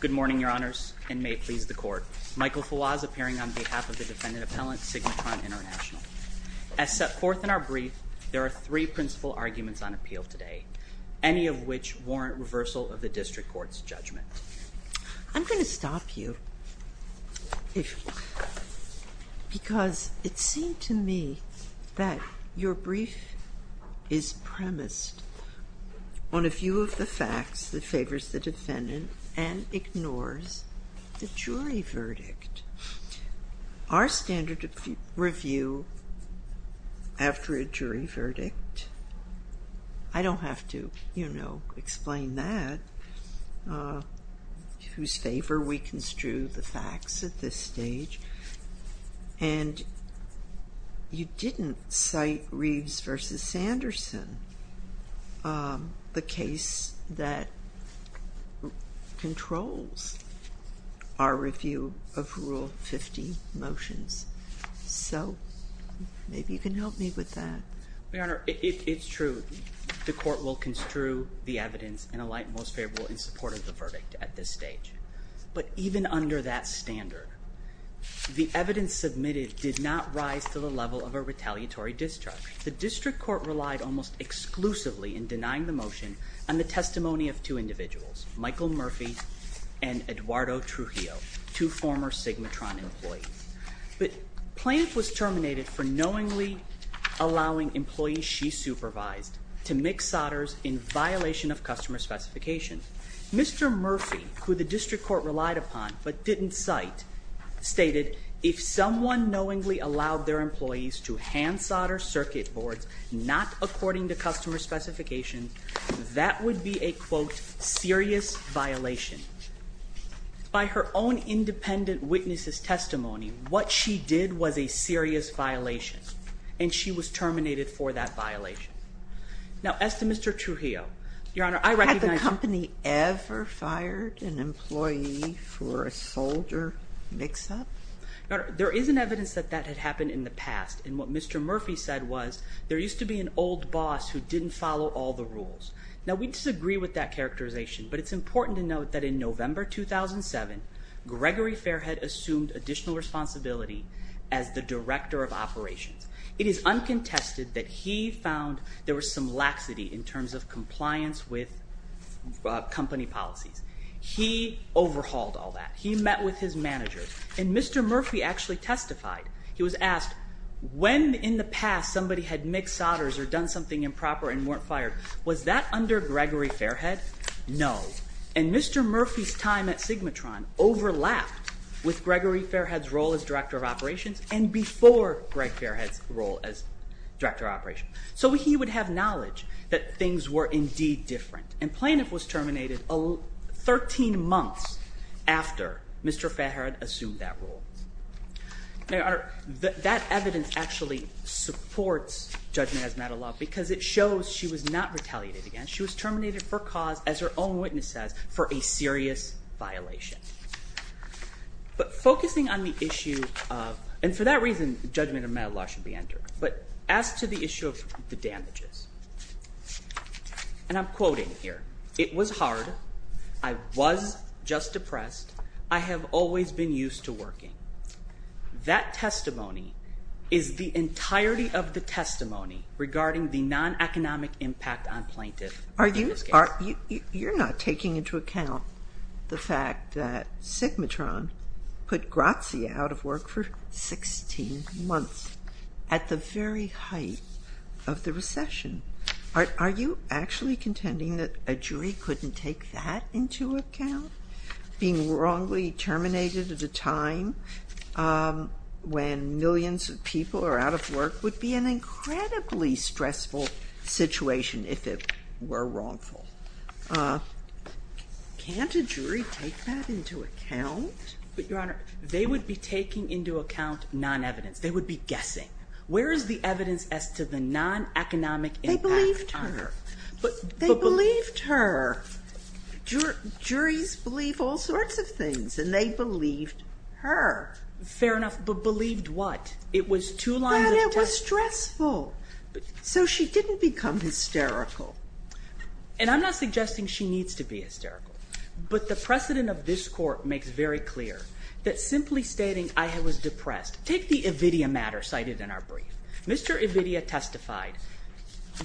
Good morning, Your Honors, and may it please the Court. Michael Fawaz, appearing on behalf of the Defendant Appellant, SigmaTron International. As set forth in our brief, there are three principal arguments on appeal today, any of which warrant reversal of the District Court's judgment. I'm going to stop you, because it seems to me that your brief is premised on a few of the facts that favors the Defendant and ignores the jury verdict. Our standard of review after a jury verdict, I don't have to, you know, explain that, whose favor we construe the facts at this stage, and you didn't cite Reeves v. Sanderson, the case that controls our review of Rule 50 motions, so maybe you can help me with that. Your Honor, it's true, the Court will construe the evidence and alight most favorable in support of the verdict at this stage. But even under that standard, the evidence submitted did not rise to the level of a retaliatory discharge. The District Court relied almost exclusively in denying the motion on the testimony of two individuals, Michael Murphy and Eduardo Trujillo, two former SigmaTron employees. But Plante was terminated for knowingly allowing employees she supervised to mix solders in violation of customer specifications. Mr. Murphy, who the District Court relied upon but didn't cite, stated, if someone knowingly allowed their employees to hand solder circuit boards not according to customer specifications, that would be a, quote, serious violation. By her own independent witness' testimony, what she did was a serious violation, and she was terminated for that violation. Now, as to Mr. Trujillo, Your Honor, I recognize- Had the company ever fired an employee for a solder mix-up? Your Honor, there is an evidence that that had happened in the past, and what Mr. Murphy said was, there used to be an old boss who didn't follow all the rules. Now, we disagree with that characterization, but it's important to note that in November 2007, Gregory Fairhead assumed additional responsibility as the Director of Operations. It is uncontested that he found there was some laxity in terms of compliance with company policies. He overhauled all that. He met with his managers, and Mr. Murphy actually testified. He was asked, when in the past somebody had mixed solders or done something improper and weren't fired, was that under Gregory Fairhead? No. And Mr. Murphy's time at Sigmatron overlapped with Gregory Fairhead's role as Director of Operations and before Greg Fairhead's role as Director of Operations. So he would have knowledge that things were indeed different, and Planoff was terminated 13 months after Mr. Fairhead assumed that role. Now, Your Honor, that evidence actually supports judgment as matter of law because it shows she was not retaliated against. She was terminated for cause, as her own witness says, for a serious violation. But focusing on the issue of—and for that reason, judgment of matter of law should be entered—but as to the issue of the damages, and I'm quoting here, it was hard, I was just depressed, I have always been used to working. That testimony is the entirety of the testimony regarding the non-economic impact on plaintiff. Are you—you're not taking into account the fact that Sigmatron put Grazia out of work for 16 months at the very height of the recession. Are you actually contending that a jury couldn't take that into account? Being wrongly terminated at a time when millions of people are out of work would be an incredibly stressful situation if it were wrongful. Can't a jury take that into account? But, Your Honor, they would be taking into account non-evidence. They would be guessing. Where is the evidence as to the non-economic impact on her? They believed her. But— They believed her. Juries believe all sorts of things, and they believed her. Fair enough. But believed what? It was two lines of testimony. That it was stressful. So she didn't become hysterical. And I'm not suggesting she needs to be hysterical. But the precedent of this Court makes very clear that simply stating I was depressed—take the Ividia matter cited in our brief. Mr. Ividia testified.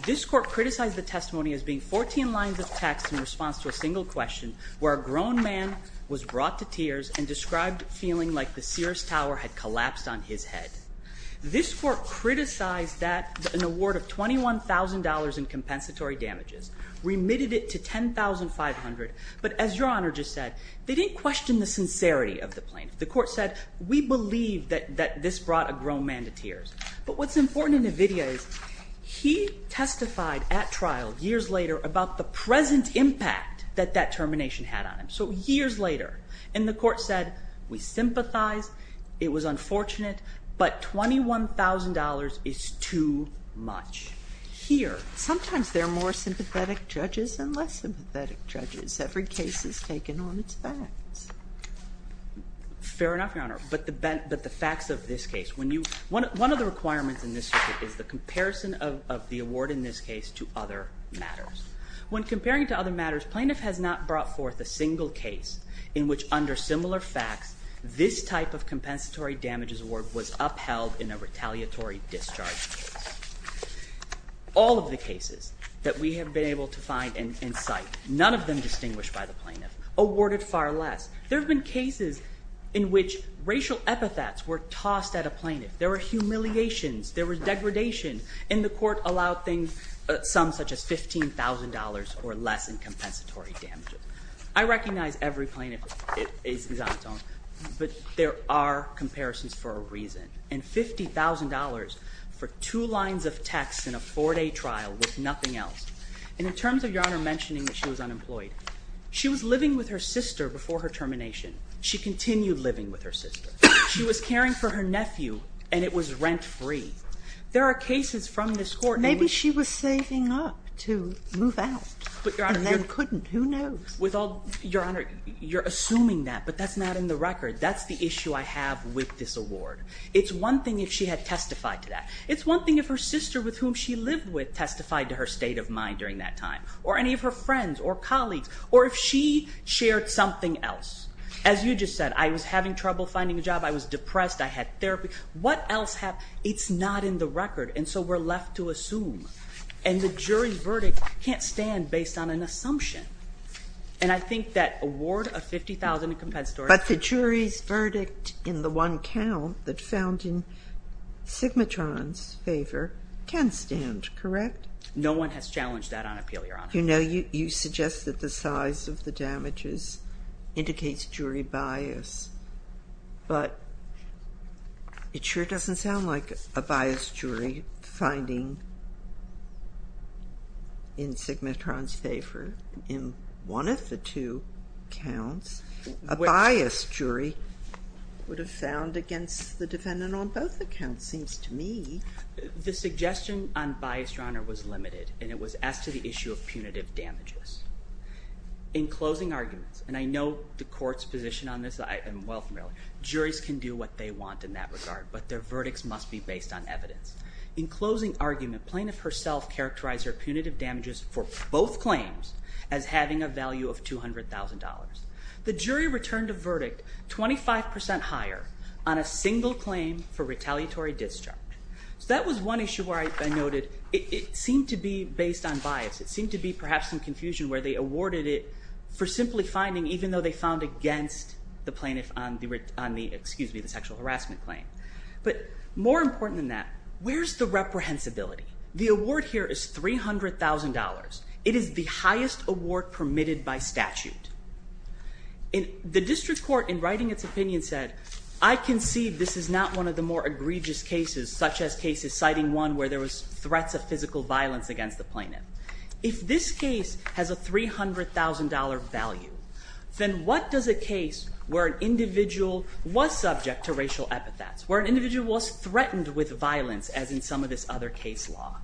This Court criticized the testimony as being 14 lines of text in response to a single question where a grown man was brought to tears and described feeling like the Sears Tower had collapsed on his head. This Court criticized that an award of $21,000 in compensatory damages remitted it to $10,500. But as Your Honor just said, they didn't question the sincerity of the plaintiff. The Court said, we believe that this brought a grown man to tears. But what's important in Ividia is he testified at trial years later about the present impact that that termination had on him. So years later. And the Court said, we sympathize. It was unfortunate. But $21,000 is too much. Here, sometimes there are more sympathetic judges and less sympathetic judges. Every case is taken on its facts. Fair enough, Your Honor. But the facts of this case. One of the requirements in this circuit is the comparison of the award in this case to other matters. When comparing to other matters, plaintiff has not brought forth a single case in which under similar facts, this type of compensatory damages award was upheld in a retaliatory discharge. All of the cases that we have been able to find and cite, none of them distinguished by the plaintiff, awarded far less. There have been cases in which racial epithets were tossed at a plaintiff. There were humiliations. There was degradation. And the Court allowed things, some such as $15,000 or less in compensatory damages. I recognize every plaintiff is on its own. But there are comparisons for a reason. And $50,000 for two lines of text in a four-day trial with nothing else. And in terms of Your Honor mentioning that she was unemployed, she was living with her sister before her termination. She continued living with her sister. She was caring for her nephew, and it was rent-free. There are cases from this Court in which Maybe she was saving up to move out and then couldn't. Who knows? Your Honor, you're assuming that, but that's not in the record. That's the issue I have with this award. It's one thing if she had testified to that. It's one thing if her sister with whom she lived with testified to her state of mind during that time, or any of her friends or colleagues, or if she shared something else. As you just said, I was having trouble finding a job. I was depressed. I had therapy. It's not in the record, and so we're left to assume. And the jury verdict can't stand based on an assumption. And I think that award of $50,000 in compensatory But the jury's verdict in the one count that found in Sigmatron's favor can stand, correct? No one has challenged that on appeal, Your Honor. You know, you suggest that the size of the damages indicates jury bias. But it sure doesn't sound like a biased jury finding in Sigmatron's favor in one of the two counts. A biased jury would have found against the defendant on both accounts, seems to me. The suggestion on bias, Your Honor, was limited, and it was asked to the issue of punitive damages. In closing arguments, and I know the court's position on this. I am well familiar. Juries can do what they want in that regard, but their verdicts must be based on evidence. In closing argument, plaintiff herself characterized her punitive damages for both claims as having a value of $200,000. The jury returned a verdict 25% higher on a single claim for retaliatory discharge. So that was one issue where I noted it seemed to be based on bias. It seemed to be perhaps some confusion where they awarded it for simply finding even though they found against the plaintiff on the sexual harassment claim. But more important than that, where's the reprehensibility? The award here is $300,000. It is the highest award permitted by statute. The district court, in writing its opinion, said, I concede this is not one of the more egregious cases, such as cases citing one where there was threats of physical violence against the plaintiff. If this case has a $300,000 value, then what does a case where an individual was subject to racial epithets, where an individual was threatened with violence as in some of this other case law.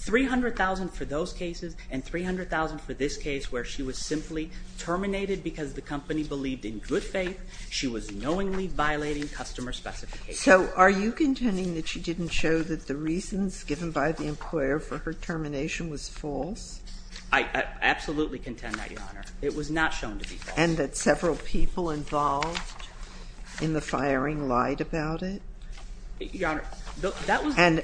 $300,000 for those cases and $300,000 for this case where she was simply terminated because the company believed in good faith. She was knowingly violating customer specifications. So are you contending that she didn't show that the reasons given by the employer for her termination was false? I absolutely contend that, Your Honor. It was not shown to be false. And that several people involved in the firing lied about it? Your Honor, that was – And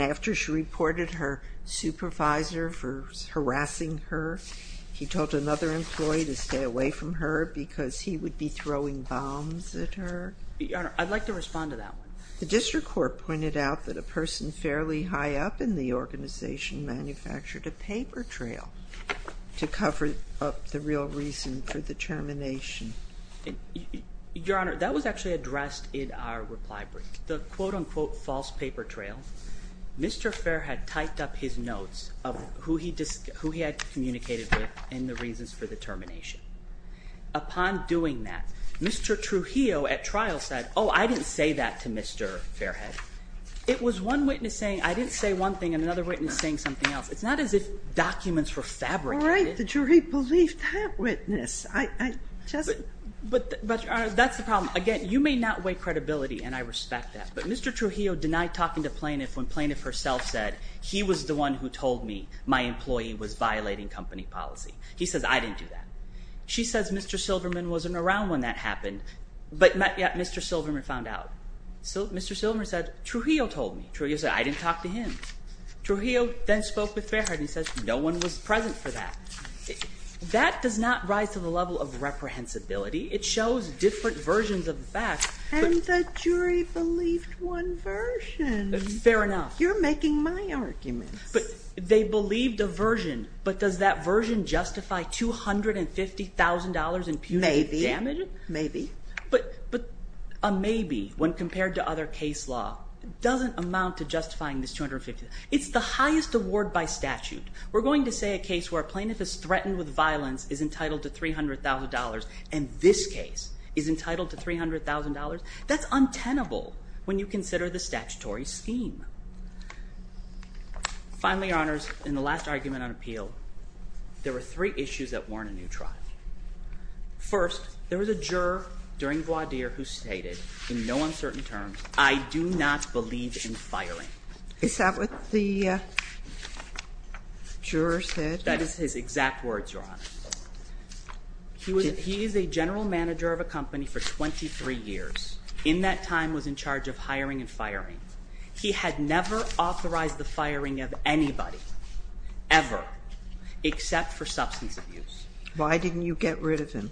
after she reported her supervisor for harassing her, he told another employee to stay away from her because he would be throwing bombs at her? Your Honor, I'd like to respond to that one. The district court pointed out that a person fairly high up in the organization manufactured a paper trail to cover up the real reason for the termination. Your Honor, that was actually addressed in our reply brief. The quote-unquote false paper trail, Mr. Fair had typed up his notes of who he had communicated with and the reasons for the termination. Upon doing that, Mr. Trujillo at trial said, oh, I didn't say that to Mr. Fairhead. It was one witness saying I didn't say one thing and another witness saying something else. It's not as if documents were fabricated. All right. The jury believed that witness. I just – But, Your Honor, that's the problem. Again, you may not weigh credibility, and I respect that. But Mr. Trujillo denied talking to plaintiff when plaintiff herself said he was the one who told me my employee was violating company policy. He says I didn't do that. She says Mr. Silverman wasn't around when that happened, but Mr. Silverman found out. Mr. Silverman said Trujillo told me. Trujillo said I didn't talk to him. Trujillo then spoke with Fairhead and he says no one was present for that. That does not rise to the level of reprehensibility. It shows different versions of the facts. And the jury believed one version. Fair enough. You're making my arguments. But they believed a version, but does that version justify $250,000 in punitive damage? Maybe. Maybe. But a maybe when compared to other case law doesn't amount to justifying this $250,000. It's the highest award by statute. We're going to say a case where a plaintiff is threatened with violence is entitled to $300,000, and this case is entitled to $300,000? That's untenable when you consider the statutory scheme. Finally, Your Honors, in the last argument on appeal, there were three issues that warrant a new trial. First, there was a juror during voir dire who stated in no uncertain terms, I do not believe in firing. Is that what the juror said? That is his exact words, Your Honor. He is a general manager of a company for 23 years. In that time was in charge of hiring and firing. He had never authorized the firing of anybody, ever, except for substance abuse. Why didn't you get rid of him?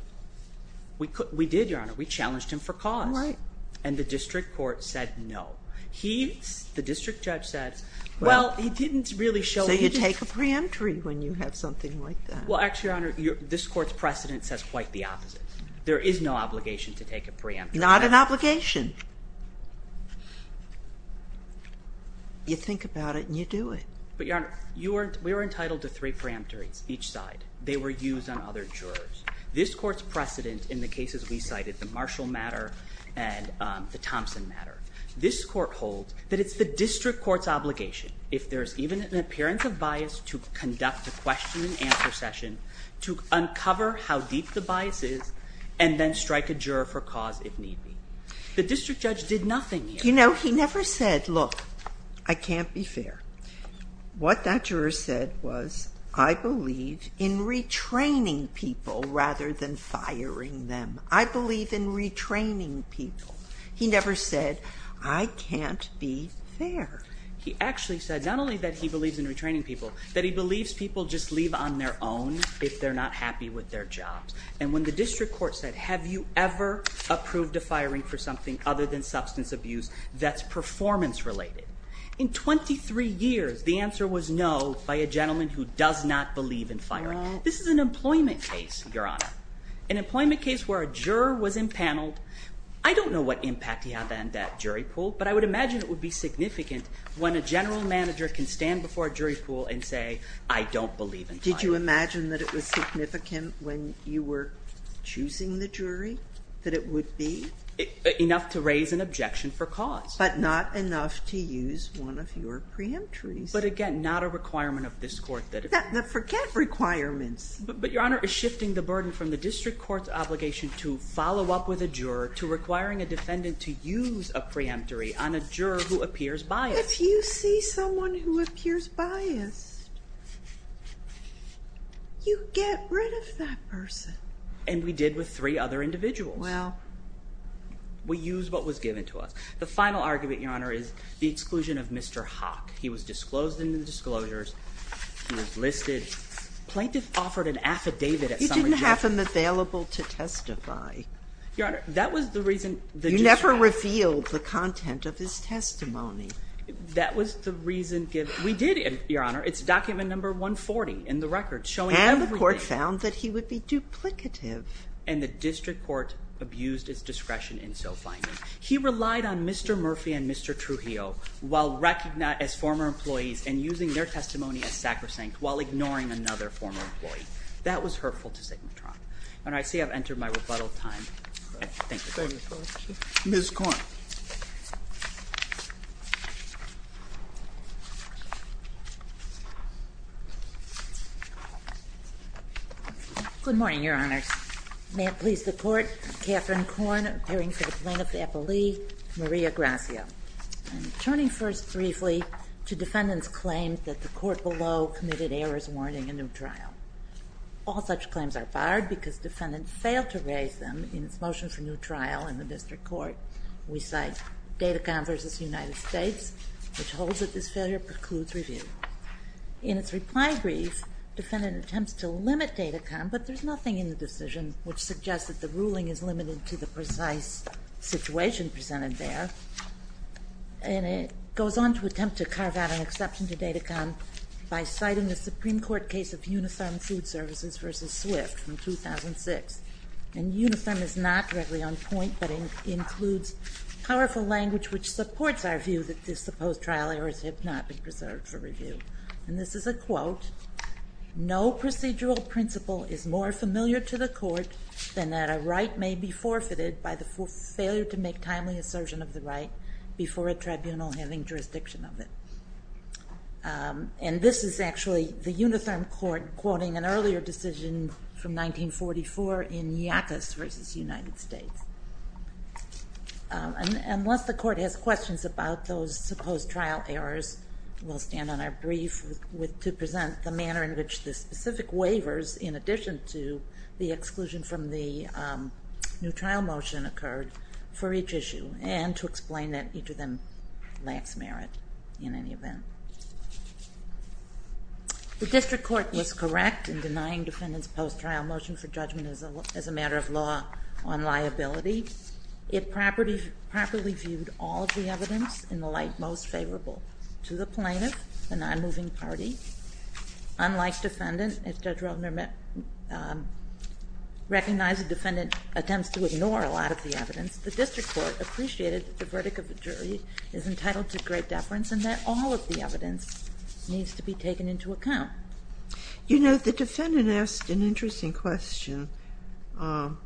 We did, Your Honor. We challenged him for cause. All right. And the district court said no. He, the district judge said, well, he didn't really show that he did. So you take a preemptory when you have something like that. Well, actually, Your Honor, this court's precedent says quite the opposite. There is no obligation to take a preemptory. Not an obligation. You think about it and you do it. But, Your Honor, we were entitled to three preemptories, each side. They were used on other jurors. This court's precedent in the cases we cited, the Marshall matter and the Thompson matter, this court holds that it's the district court's obligation, if there is even an appearance of bias, to conduct a question and answer session to uncover how deep the bias is and then strike a juror for cause if need be. The district judge did nothing. You know, he never said, look, I can't be fair. What that juror said was, I believe in retraining people rather than firing them. I believe in retraining people. He never said, I can't be fair. He actually said not only that he believes in retraining people, that he believes people just leave on their own if they're not happy with their jobs. And when the district court said, have you ever approved a firing for something other than substance abuse that's performance related? In 23 years, the answer was no by a gentleman who does not believe in firing. This is an employment case, Your Honor. An employment case where a juror was impaneled. I don't know what impact he had on that jury pool, but I would imagine it would be significant when a general manager can stand before a jury pool and say, I don't believe in firing. Did you imagine that it was significant when you were choosing the jury, that it would be? Enough to raise an objection for cause. But not enough to use one of your preemptories. But again, not a requirement of this court. Forget requirements. But, Your Honor, shifting the burden from the district court's obligation to follow up with a juror to requiring a defendant to use a preemptory on a juror who appears biased. If you see someone who appears biased, you get rid of that person. And we did with three other individuals. Well. We used what was given to us. The final argument, Your Honor, is the exclusion of Mr. Hock. He was disclosed in the disclosures. He was listed. Plaintiff offered an affidavit at some point. You didn't have him available to testify. Your Honor, that was the reason. You never revealed the content of his testimony. That was the reason given. We did, Your Honor. It's document number 140 in the record showing everything. And the court found that he would be duplicative. And the district court abused its discretion in so finding. He relied on Mr. Murphy and Mr. Trujillo while recognized as former employees and using their testimony as sacrosanct while ignoring another former employee. That was hurtful to Sigma Tron. And I see I've entered my rebuttal time. Thank you. Ms. Korn. Good morning, Your Honors. May it please the Court, Katherine Korn appearing for the plaintiff's appellee, Maria Gracia. Turning first briefly to defendants' claims that the court below committed errors warning a new trial. All such claims are barred because defendants failed to raise them in its motion for new trial in the district court. We cite Datacon v. United States, which holds that this failure precludes review. In its reply brief, defendant attempts to limit Datacon, but there's nothing in the decision which suggests that the ruling is limited to the precise situation presented there. And it goes on to attempt to carve out an exception to Datacon by citing the Supreme Court case of Unifem Food Services v. Swift from 2006. And Unifem is not directly on point, but it includes powerful language which supports our view that this supposed trial errors have not been preserved for review. And this is a quote. No procedural principle is more familiar to the court than that a right may be forfeited by the failure to make timely assertion of the right before a tribunal having jurisdiction of it. And this is actually the Unifem court quoting an earlier decision from 1944 in Yackas v. United States. And once the court has questions about those supposed trial errors, we'll stand on our brief to present the manner in which the specific waivers, in addition to the exclusion from the new trial motion, occurred for each issue and to explain that each of them lacks merit in any event. The district court was correct in denying defendants' post-trial motion for judgment as a matter of law on liability. It properly viewed all of the evidence in the light most favorable to the plaintiff, the non-moving party. Unlike defendant, as Judge Rothner recognized the defendant attempts to ignore a lot of the evidence, the district court appreciated that the verdict of the jury is entitled to great deference and that all of the evidence needs to be taken into account. You know, the defendant asked an interesting question. How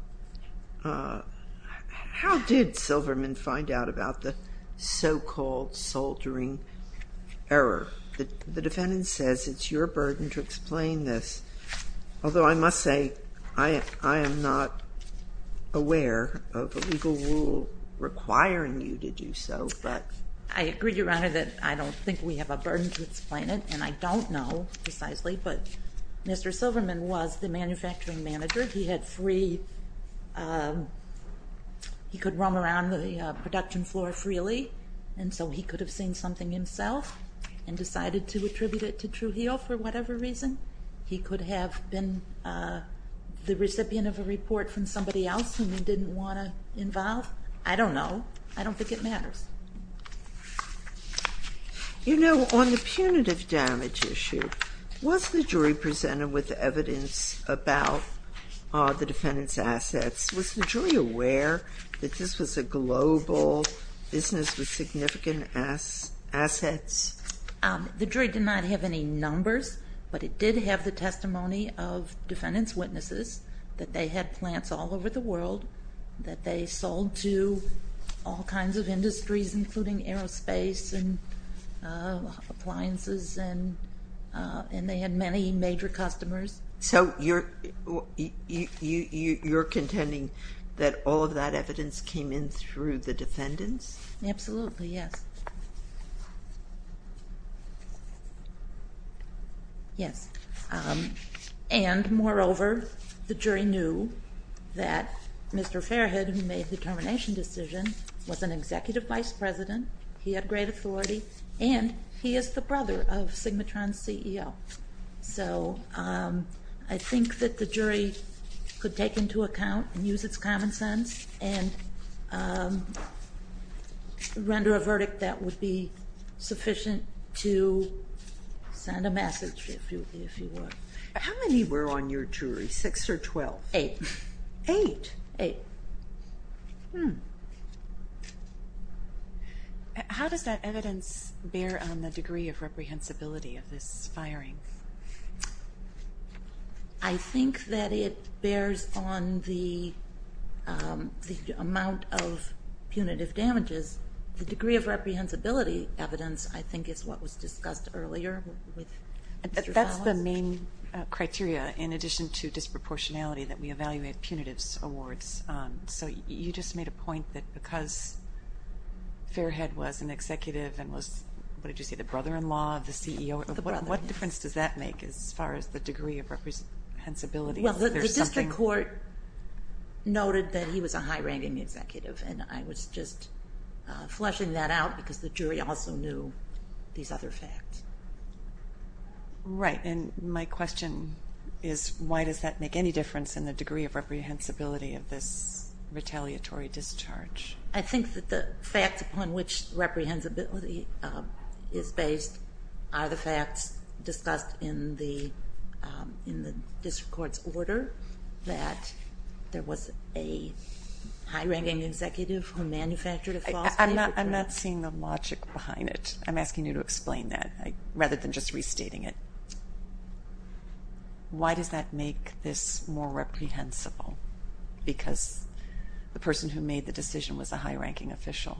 did Silverman find out about the so-called soldiering error? The defendant says it's your burden to explain this. Although I must say I am not aware of a legal rule requiring you to do so. I agree, Your Honor, that I don't think we have a burden to explain it, and I don't know precisely, but Mr. Silverman was the manufacturing manager. He could roam around the production floor freely, and so he could have seen something himself and decided to attribute it to Trujillo for whatever reason. He could have been the recipient of a report from somebody else whom he didn't want to involve. I don't know. I don't think it matters. You know, on the punitive damage issue, was the jury presented with evidence about the defendant's assets? Was the jury aware that this was a global business with significant assets? The jury did not have any numbers, but it did have the testimony of defendant's witnesses that they had plants all over the world, that they sold to all kinds of industries, including aerospace and appliances, and they had many major customers. So you're contending that all of that evidence came in through the defendants? Absolutely, yes. Yes, and moreover, the jury knew that Mr. Fairhead, who made the termination decision, was an executive vice president. He had great authority, and he is the brother of Sigmatron's CEO. So I think that the jury could take into account and use its common sense and render a verdict that would be sufficient to send a message, if you will. How many were on your jury, 6 or 12? Eight. Eight? Eight. Hmm. How does that evidence bear on the degree of reprehensibility of this firing? I think that it bears on the amount of punitive damages. The degree of reprehensibility evidence, I think, is what was discussed earlier. That's the main criteria, in addition to disproportionality, that we evaluate punitives awards. So you just made a point that because Fairhead was an executive and was, what did you say, the brother-in-law of the CEO, what difference does that make as far as the degree of reprehensibility? Well, the district court noted that he was a high-ranking executive, and I was just fleshing that out because the jury also knew these other facts. Right, and my question is, why does that make any difference in the degree of reprehensibility of this retaliatory discharge? I think that the facts upon which reprehensibility is based are the facts discussed in the district court's order, that there was a high-ranking executive who manufactured a false statement. I'm not seeing the logic behind it. I'm asking you to explain that rather than just restating it. Why does that make this more reprehensible? Because the person who made the decision was a high-ranking official.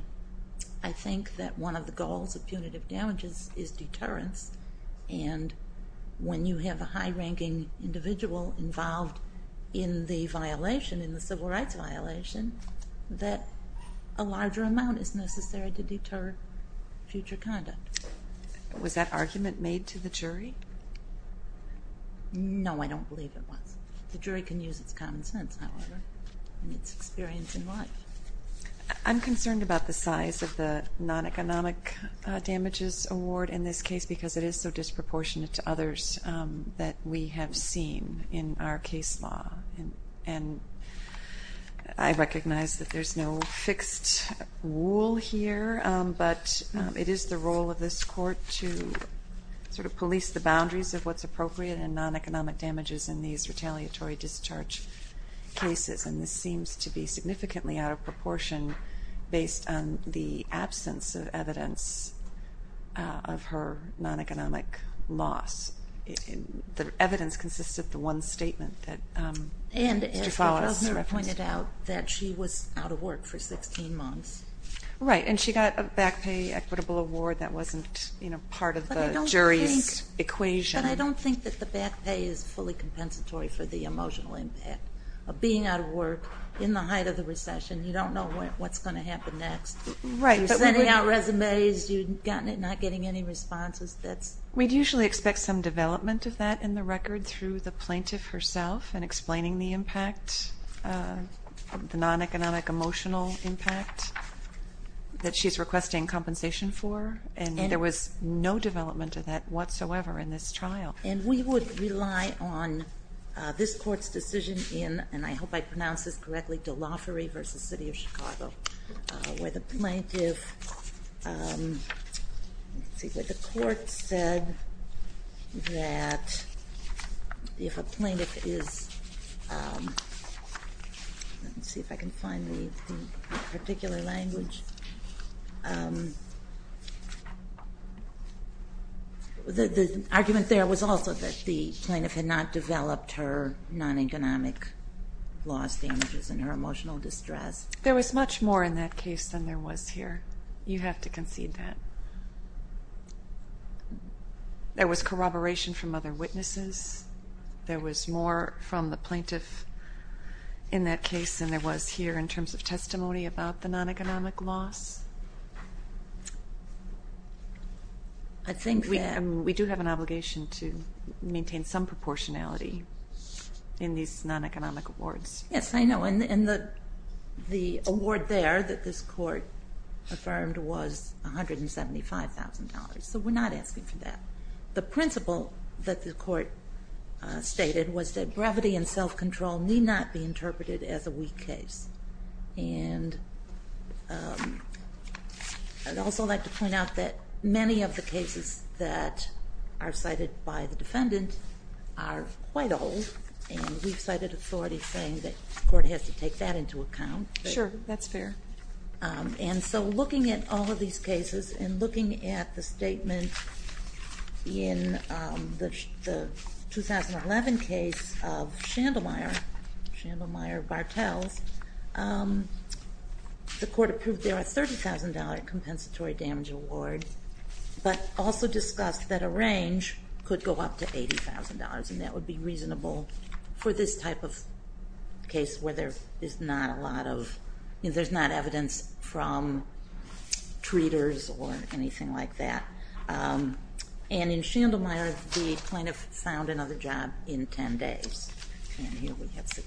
I think that one of the goals of punitive damages is deterrence, and when you have a high-ranking individual involved in the violation, in the civil rights violation, that a larger amount is necessary to deter future conduct. Was that argument made to the jury? No, I don't believe it was. The jury can use its common sense, however, and its experience in life. I'm concerned about the size of the non-economic damages award in this case because it is so disproportionate to others that we have seen in our case law, and I recognize that there's no fixed rule here, but it is the role of this court to sort of police the boundaries of what's appropriate in non-economic damages in these retaliatory discharge cases, and this seems to be significantly out of proportion based on the absence of evidence of her non-economic loss. The evidence consists of the one statement that Mr. Follis referenced. And as Professor pointed out, that she was out of work for 16 months. Right, and she got a back pay equitable award. That wasn't part of the jury's equation. But I don't think that the back pay is fully compensatory for the emotional impact of being out of work in the height of the recession. You don't know what's going to happen next. You're sending out resumes. You're not getting any responses. We'd usually expect some development of that in the record through the plaintiff herself in explaining the impact, the non-economic emotional impact, that she's requesting compensation for, and there was no development of that whatsoever in this trial. And we would rely on this court's decision in, and I hope I pronounce this correctly, Delafery v. City of Chicago, where the plaintiff, let's see, where the court said that if a plaintiff is, let me see if I can find the particular language. The argument there was also that the plaintiff had not developed her non-economic loss damages and her emotional distress. There was much more in that case than there was here. You have to concede that. There was corroboration from other witnesses. There was more from the plaintiff in that case than there was here in terms of testimony about the non-economic loss. We do have an obligation to maintain some proportionality in these non-economic awards. Yes, I know. And the award there that this court affirmed was $175,000, so we're not asking for that. The principle that the court stated was that brevity and self-control need not be interpreted as a weak case. And I'd also like to point out that many of the cases that are cited by the defendant are quite old, and we've cited authority saying that the court has to take that into account. Sure, that's fair. And so looking at all of these cases and looking at the statement in the 2011 case of Shandlemeyer, Shandlemeyer-Bartels, the court approved there a $30,000 compensatory damage award, but also discussed that a range could go up to $80,000, and that would be reasonable for this type of case where there's not evidence from treaters or anything like that. And in Shandlemeyer, the plaintiff found another job in 10 days.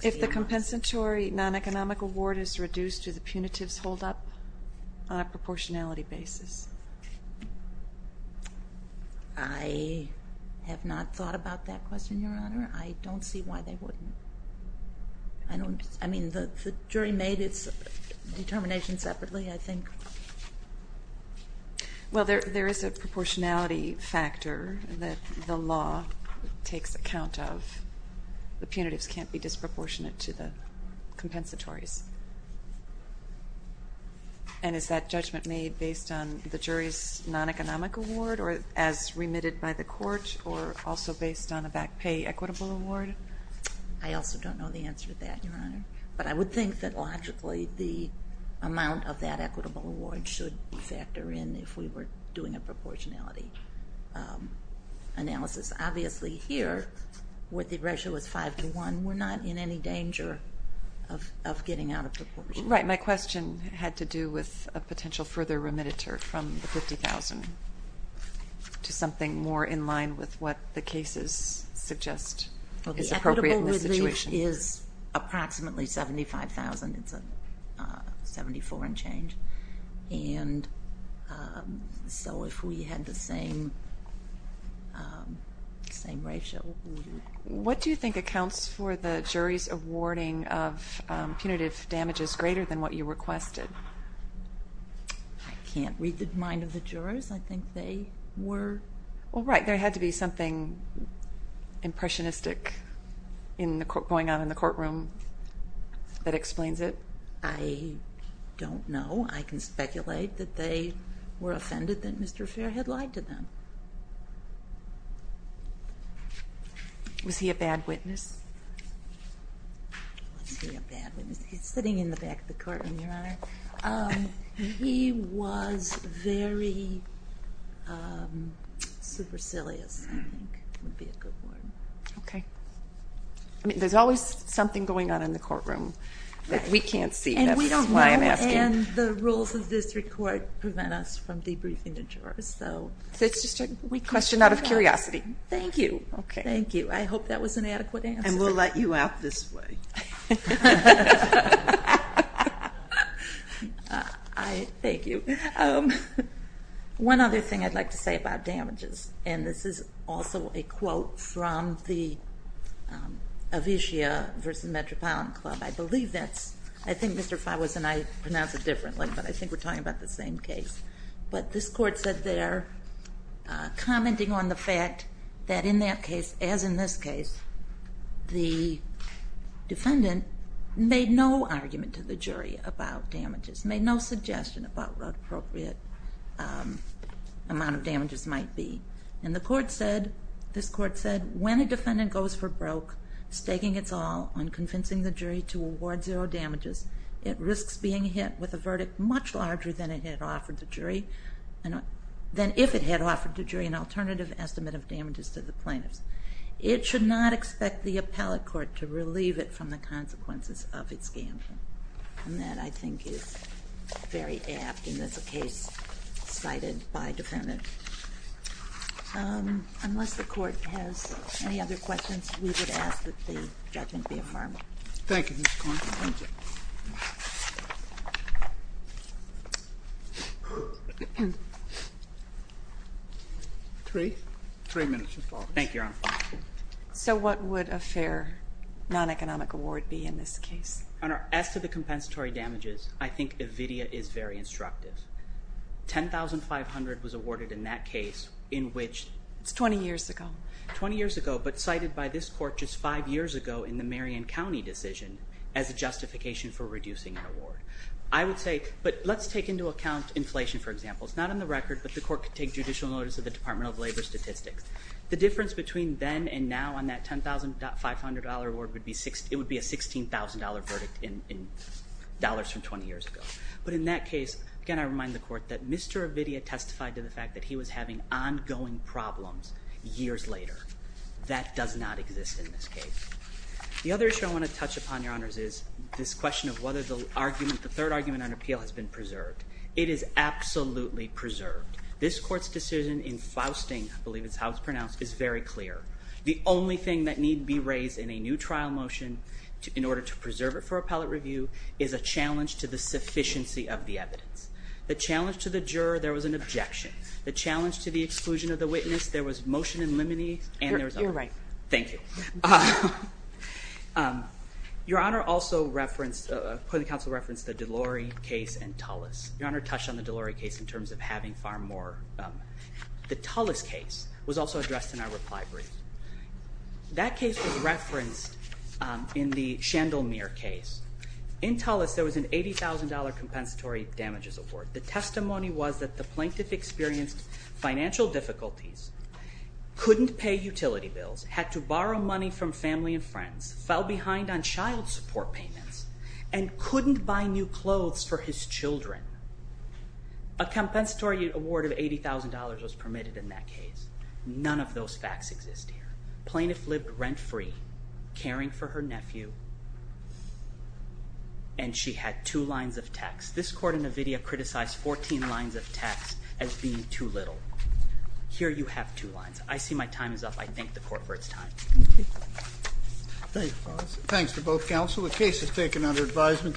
If the compensatory non-economic award is reduced, do the punitives hold up on a proportionality basis? I have not thought about that question, Your Honor. I don't see why they wouldn't. I mean, the jury made its determination separately, I think. Well, there is a proportionality factor that the law takes account of. The punitives can't be disproportionate to the compensatories. And is that judgment made based on the jury's non-economic award or as remitted by the court or also based on a back pay equitable award? I also don't know the answer to that, Your Honor. But I would think that logically the amount of that equitable award should factor in if we were doing a proportionality analysis. Obviously here, where the ratio is 5 to 1, we're not in any danger of getting out of proportion. Right. My question had to do with a potential further remitter from the $50,000 to something more in line with what the cases suggest is appropriate in this situation. Well, the equitable relief is approximately $75,000. It's a 74 and change. And so if we had the same ratio. What do you think accounts for the jury's awarding of punitive damages greater than what you requested? I can't read the mind of the jurors. I think they were. Well, right. There had to be something impressionistic going on in the courtroom that explains it. I don't know. I can speculate that they were offended that Mr. Fair had lied to them. Was he a bad witness? Was he a bad witness? He's sitting in the back of the courtroom, Your Honor. He was very supercilious, I think would be a good word. Okay. There's always something going on in the courtroom that we can't see. And we don't know. And the rules of district court prevent us from debriefing the jurors. So it's just a question out of curiosity. Thank you. Thank you. I hope that was an adequate answer. And we'll let you out this way. Thank you. One other thing I'd like to say about damages, and this is also a quote from the Avisia versus Metropolitan Club. I think Mr. Fawes and I pronounce it differently, but I think we're talking about the same case. But this court said there, commenting on the fact that in that case, as in this case, the defendant made no argument to the jury about damages, made no suggestion about what appropriate amount of damages might be. And this court said, When a defendant goes for broke, staking its all on convincing the jury to award zero damages, it risks being hit with a verdict much larger than if it had offered the jury an alternative estimate of damages to the plaintiffs. It should not expect the appellate court to relieve it from the consequences of its gambling. And that, I think, is very apt in this case cited by a defendant. Unless the court has any other questions, we would ask that the judgment be affirmed. Thank you, Ms. Coyne. Thank you. Three? Three minutes, Mr. Fawes. Thank you, Your Honor. So what would a fair non-economic award be in this case? Your Honor, as to the compensatory damages, I think Avisia is very instructive. $10,500 was awarded in that case in which it's 20 years ago, but cited by this court just five years ago in the Marion County decision as a justification for reducing an award. I would say, but let's take into account inflation, for example. It's not on the record, but the court could take judicial notice of the Department of Labor statistics. The difference between then and now on that $10,500 award, it would be a $16,000 verdict in dollars from 20 years ago. But in that case, again, I remind the court that Mr. Avidia testified to the fact that he was having ongoing problems years later. That does not exist in this case. The other issue I want to touch upon, Your Honors, is this question of whether the third argument on appeal has been preserved. It is absolutely preserved. This court's decision in Fausting, I believe is how it's pronounced, is very clear. The only thing that need be raised in a new trial motion in order to preserve it for appellate review is a challenge to the sufficiency of the evidence. The challenge to the juror, there was an objection. The challenge to the exclusion of the witness, there was motion in limine. You're right. Thank you. Your Honor also referenced, the counsel referenced the Delorey case and Tullis. Your Honor touched on the Delorey case in terms of having far more. The Tullis case was also addressed in our reply brief. That case was referenced in the Chandelmere case. In Tullis, there was an $80,000 compensatory damages award. The testimony was that the plaintiff experienced financial difficulties, couldn't pay utility bills, had to borrow money from family and friends, fell behind on child support payments, and couldn't buy new clothes for his children. A compensatory award of $80,000 was permitted in that case. None of those facts exist here. Plaintiff lived rent-free, caring for her nephew, and she had two lines of text. This court in Ovidia criticized 14 lines of text as being too little. Here you have two lines. I see my time is up. I thank the court for its time. Thank you, fellas. Thanks to both counsel. The case is taken under advisement.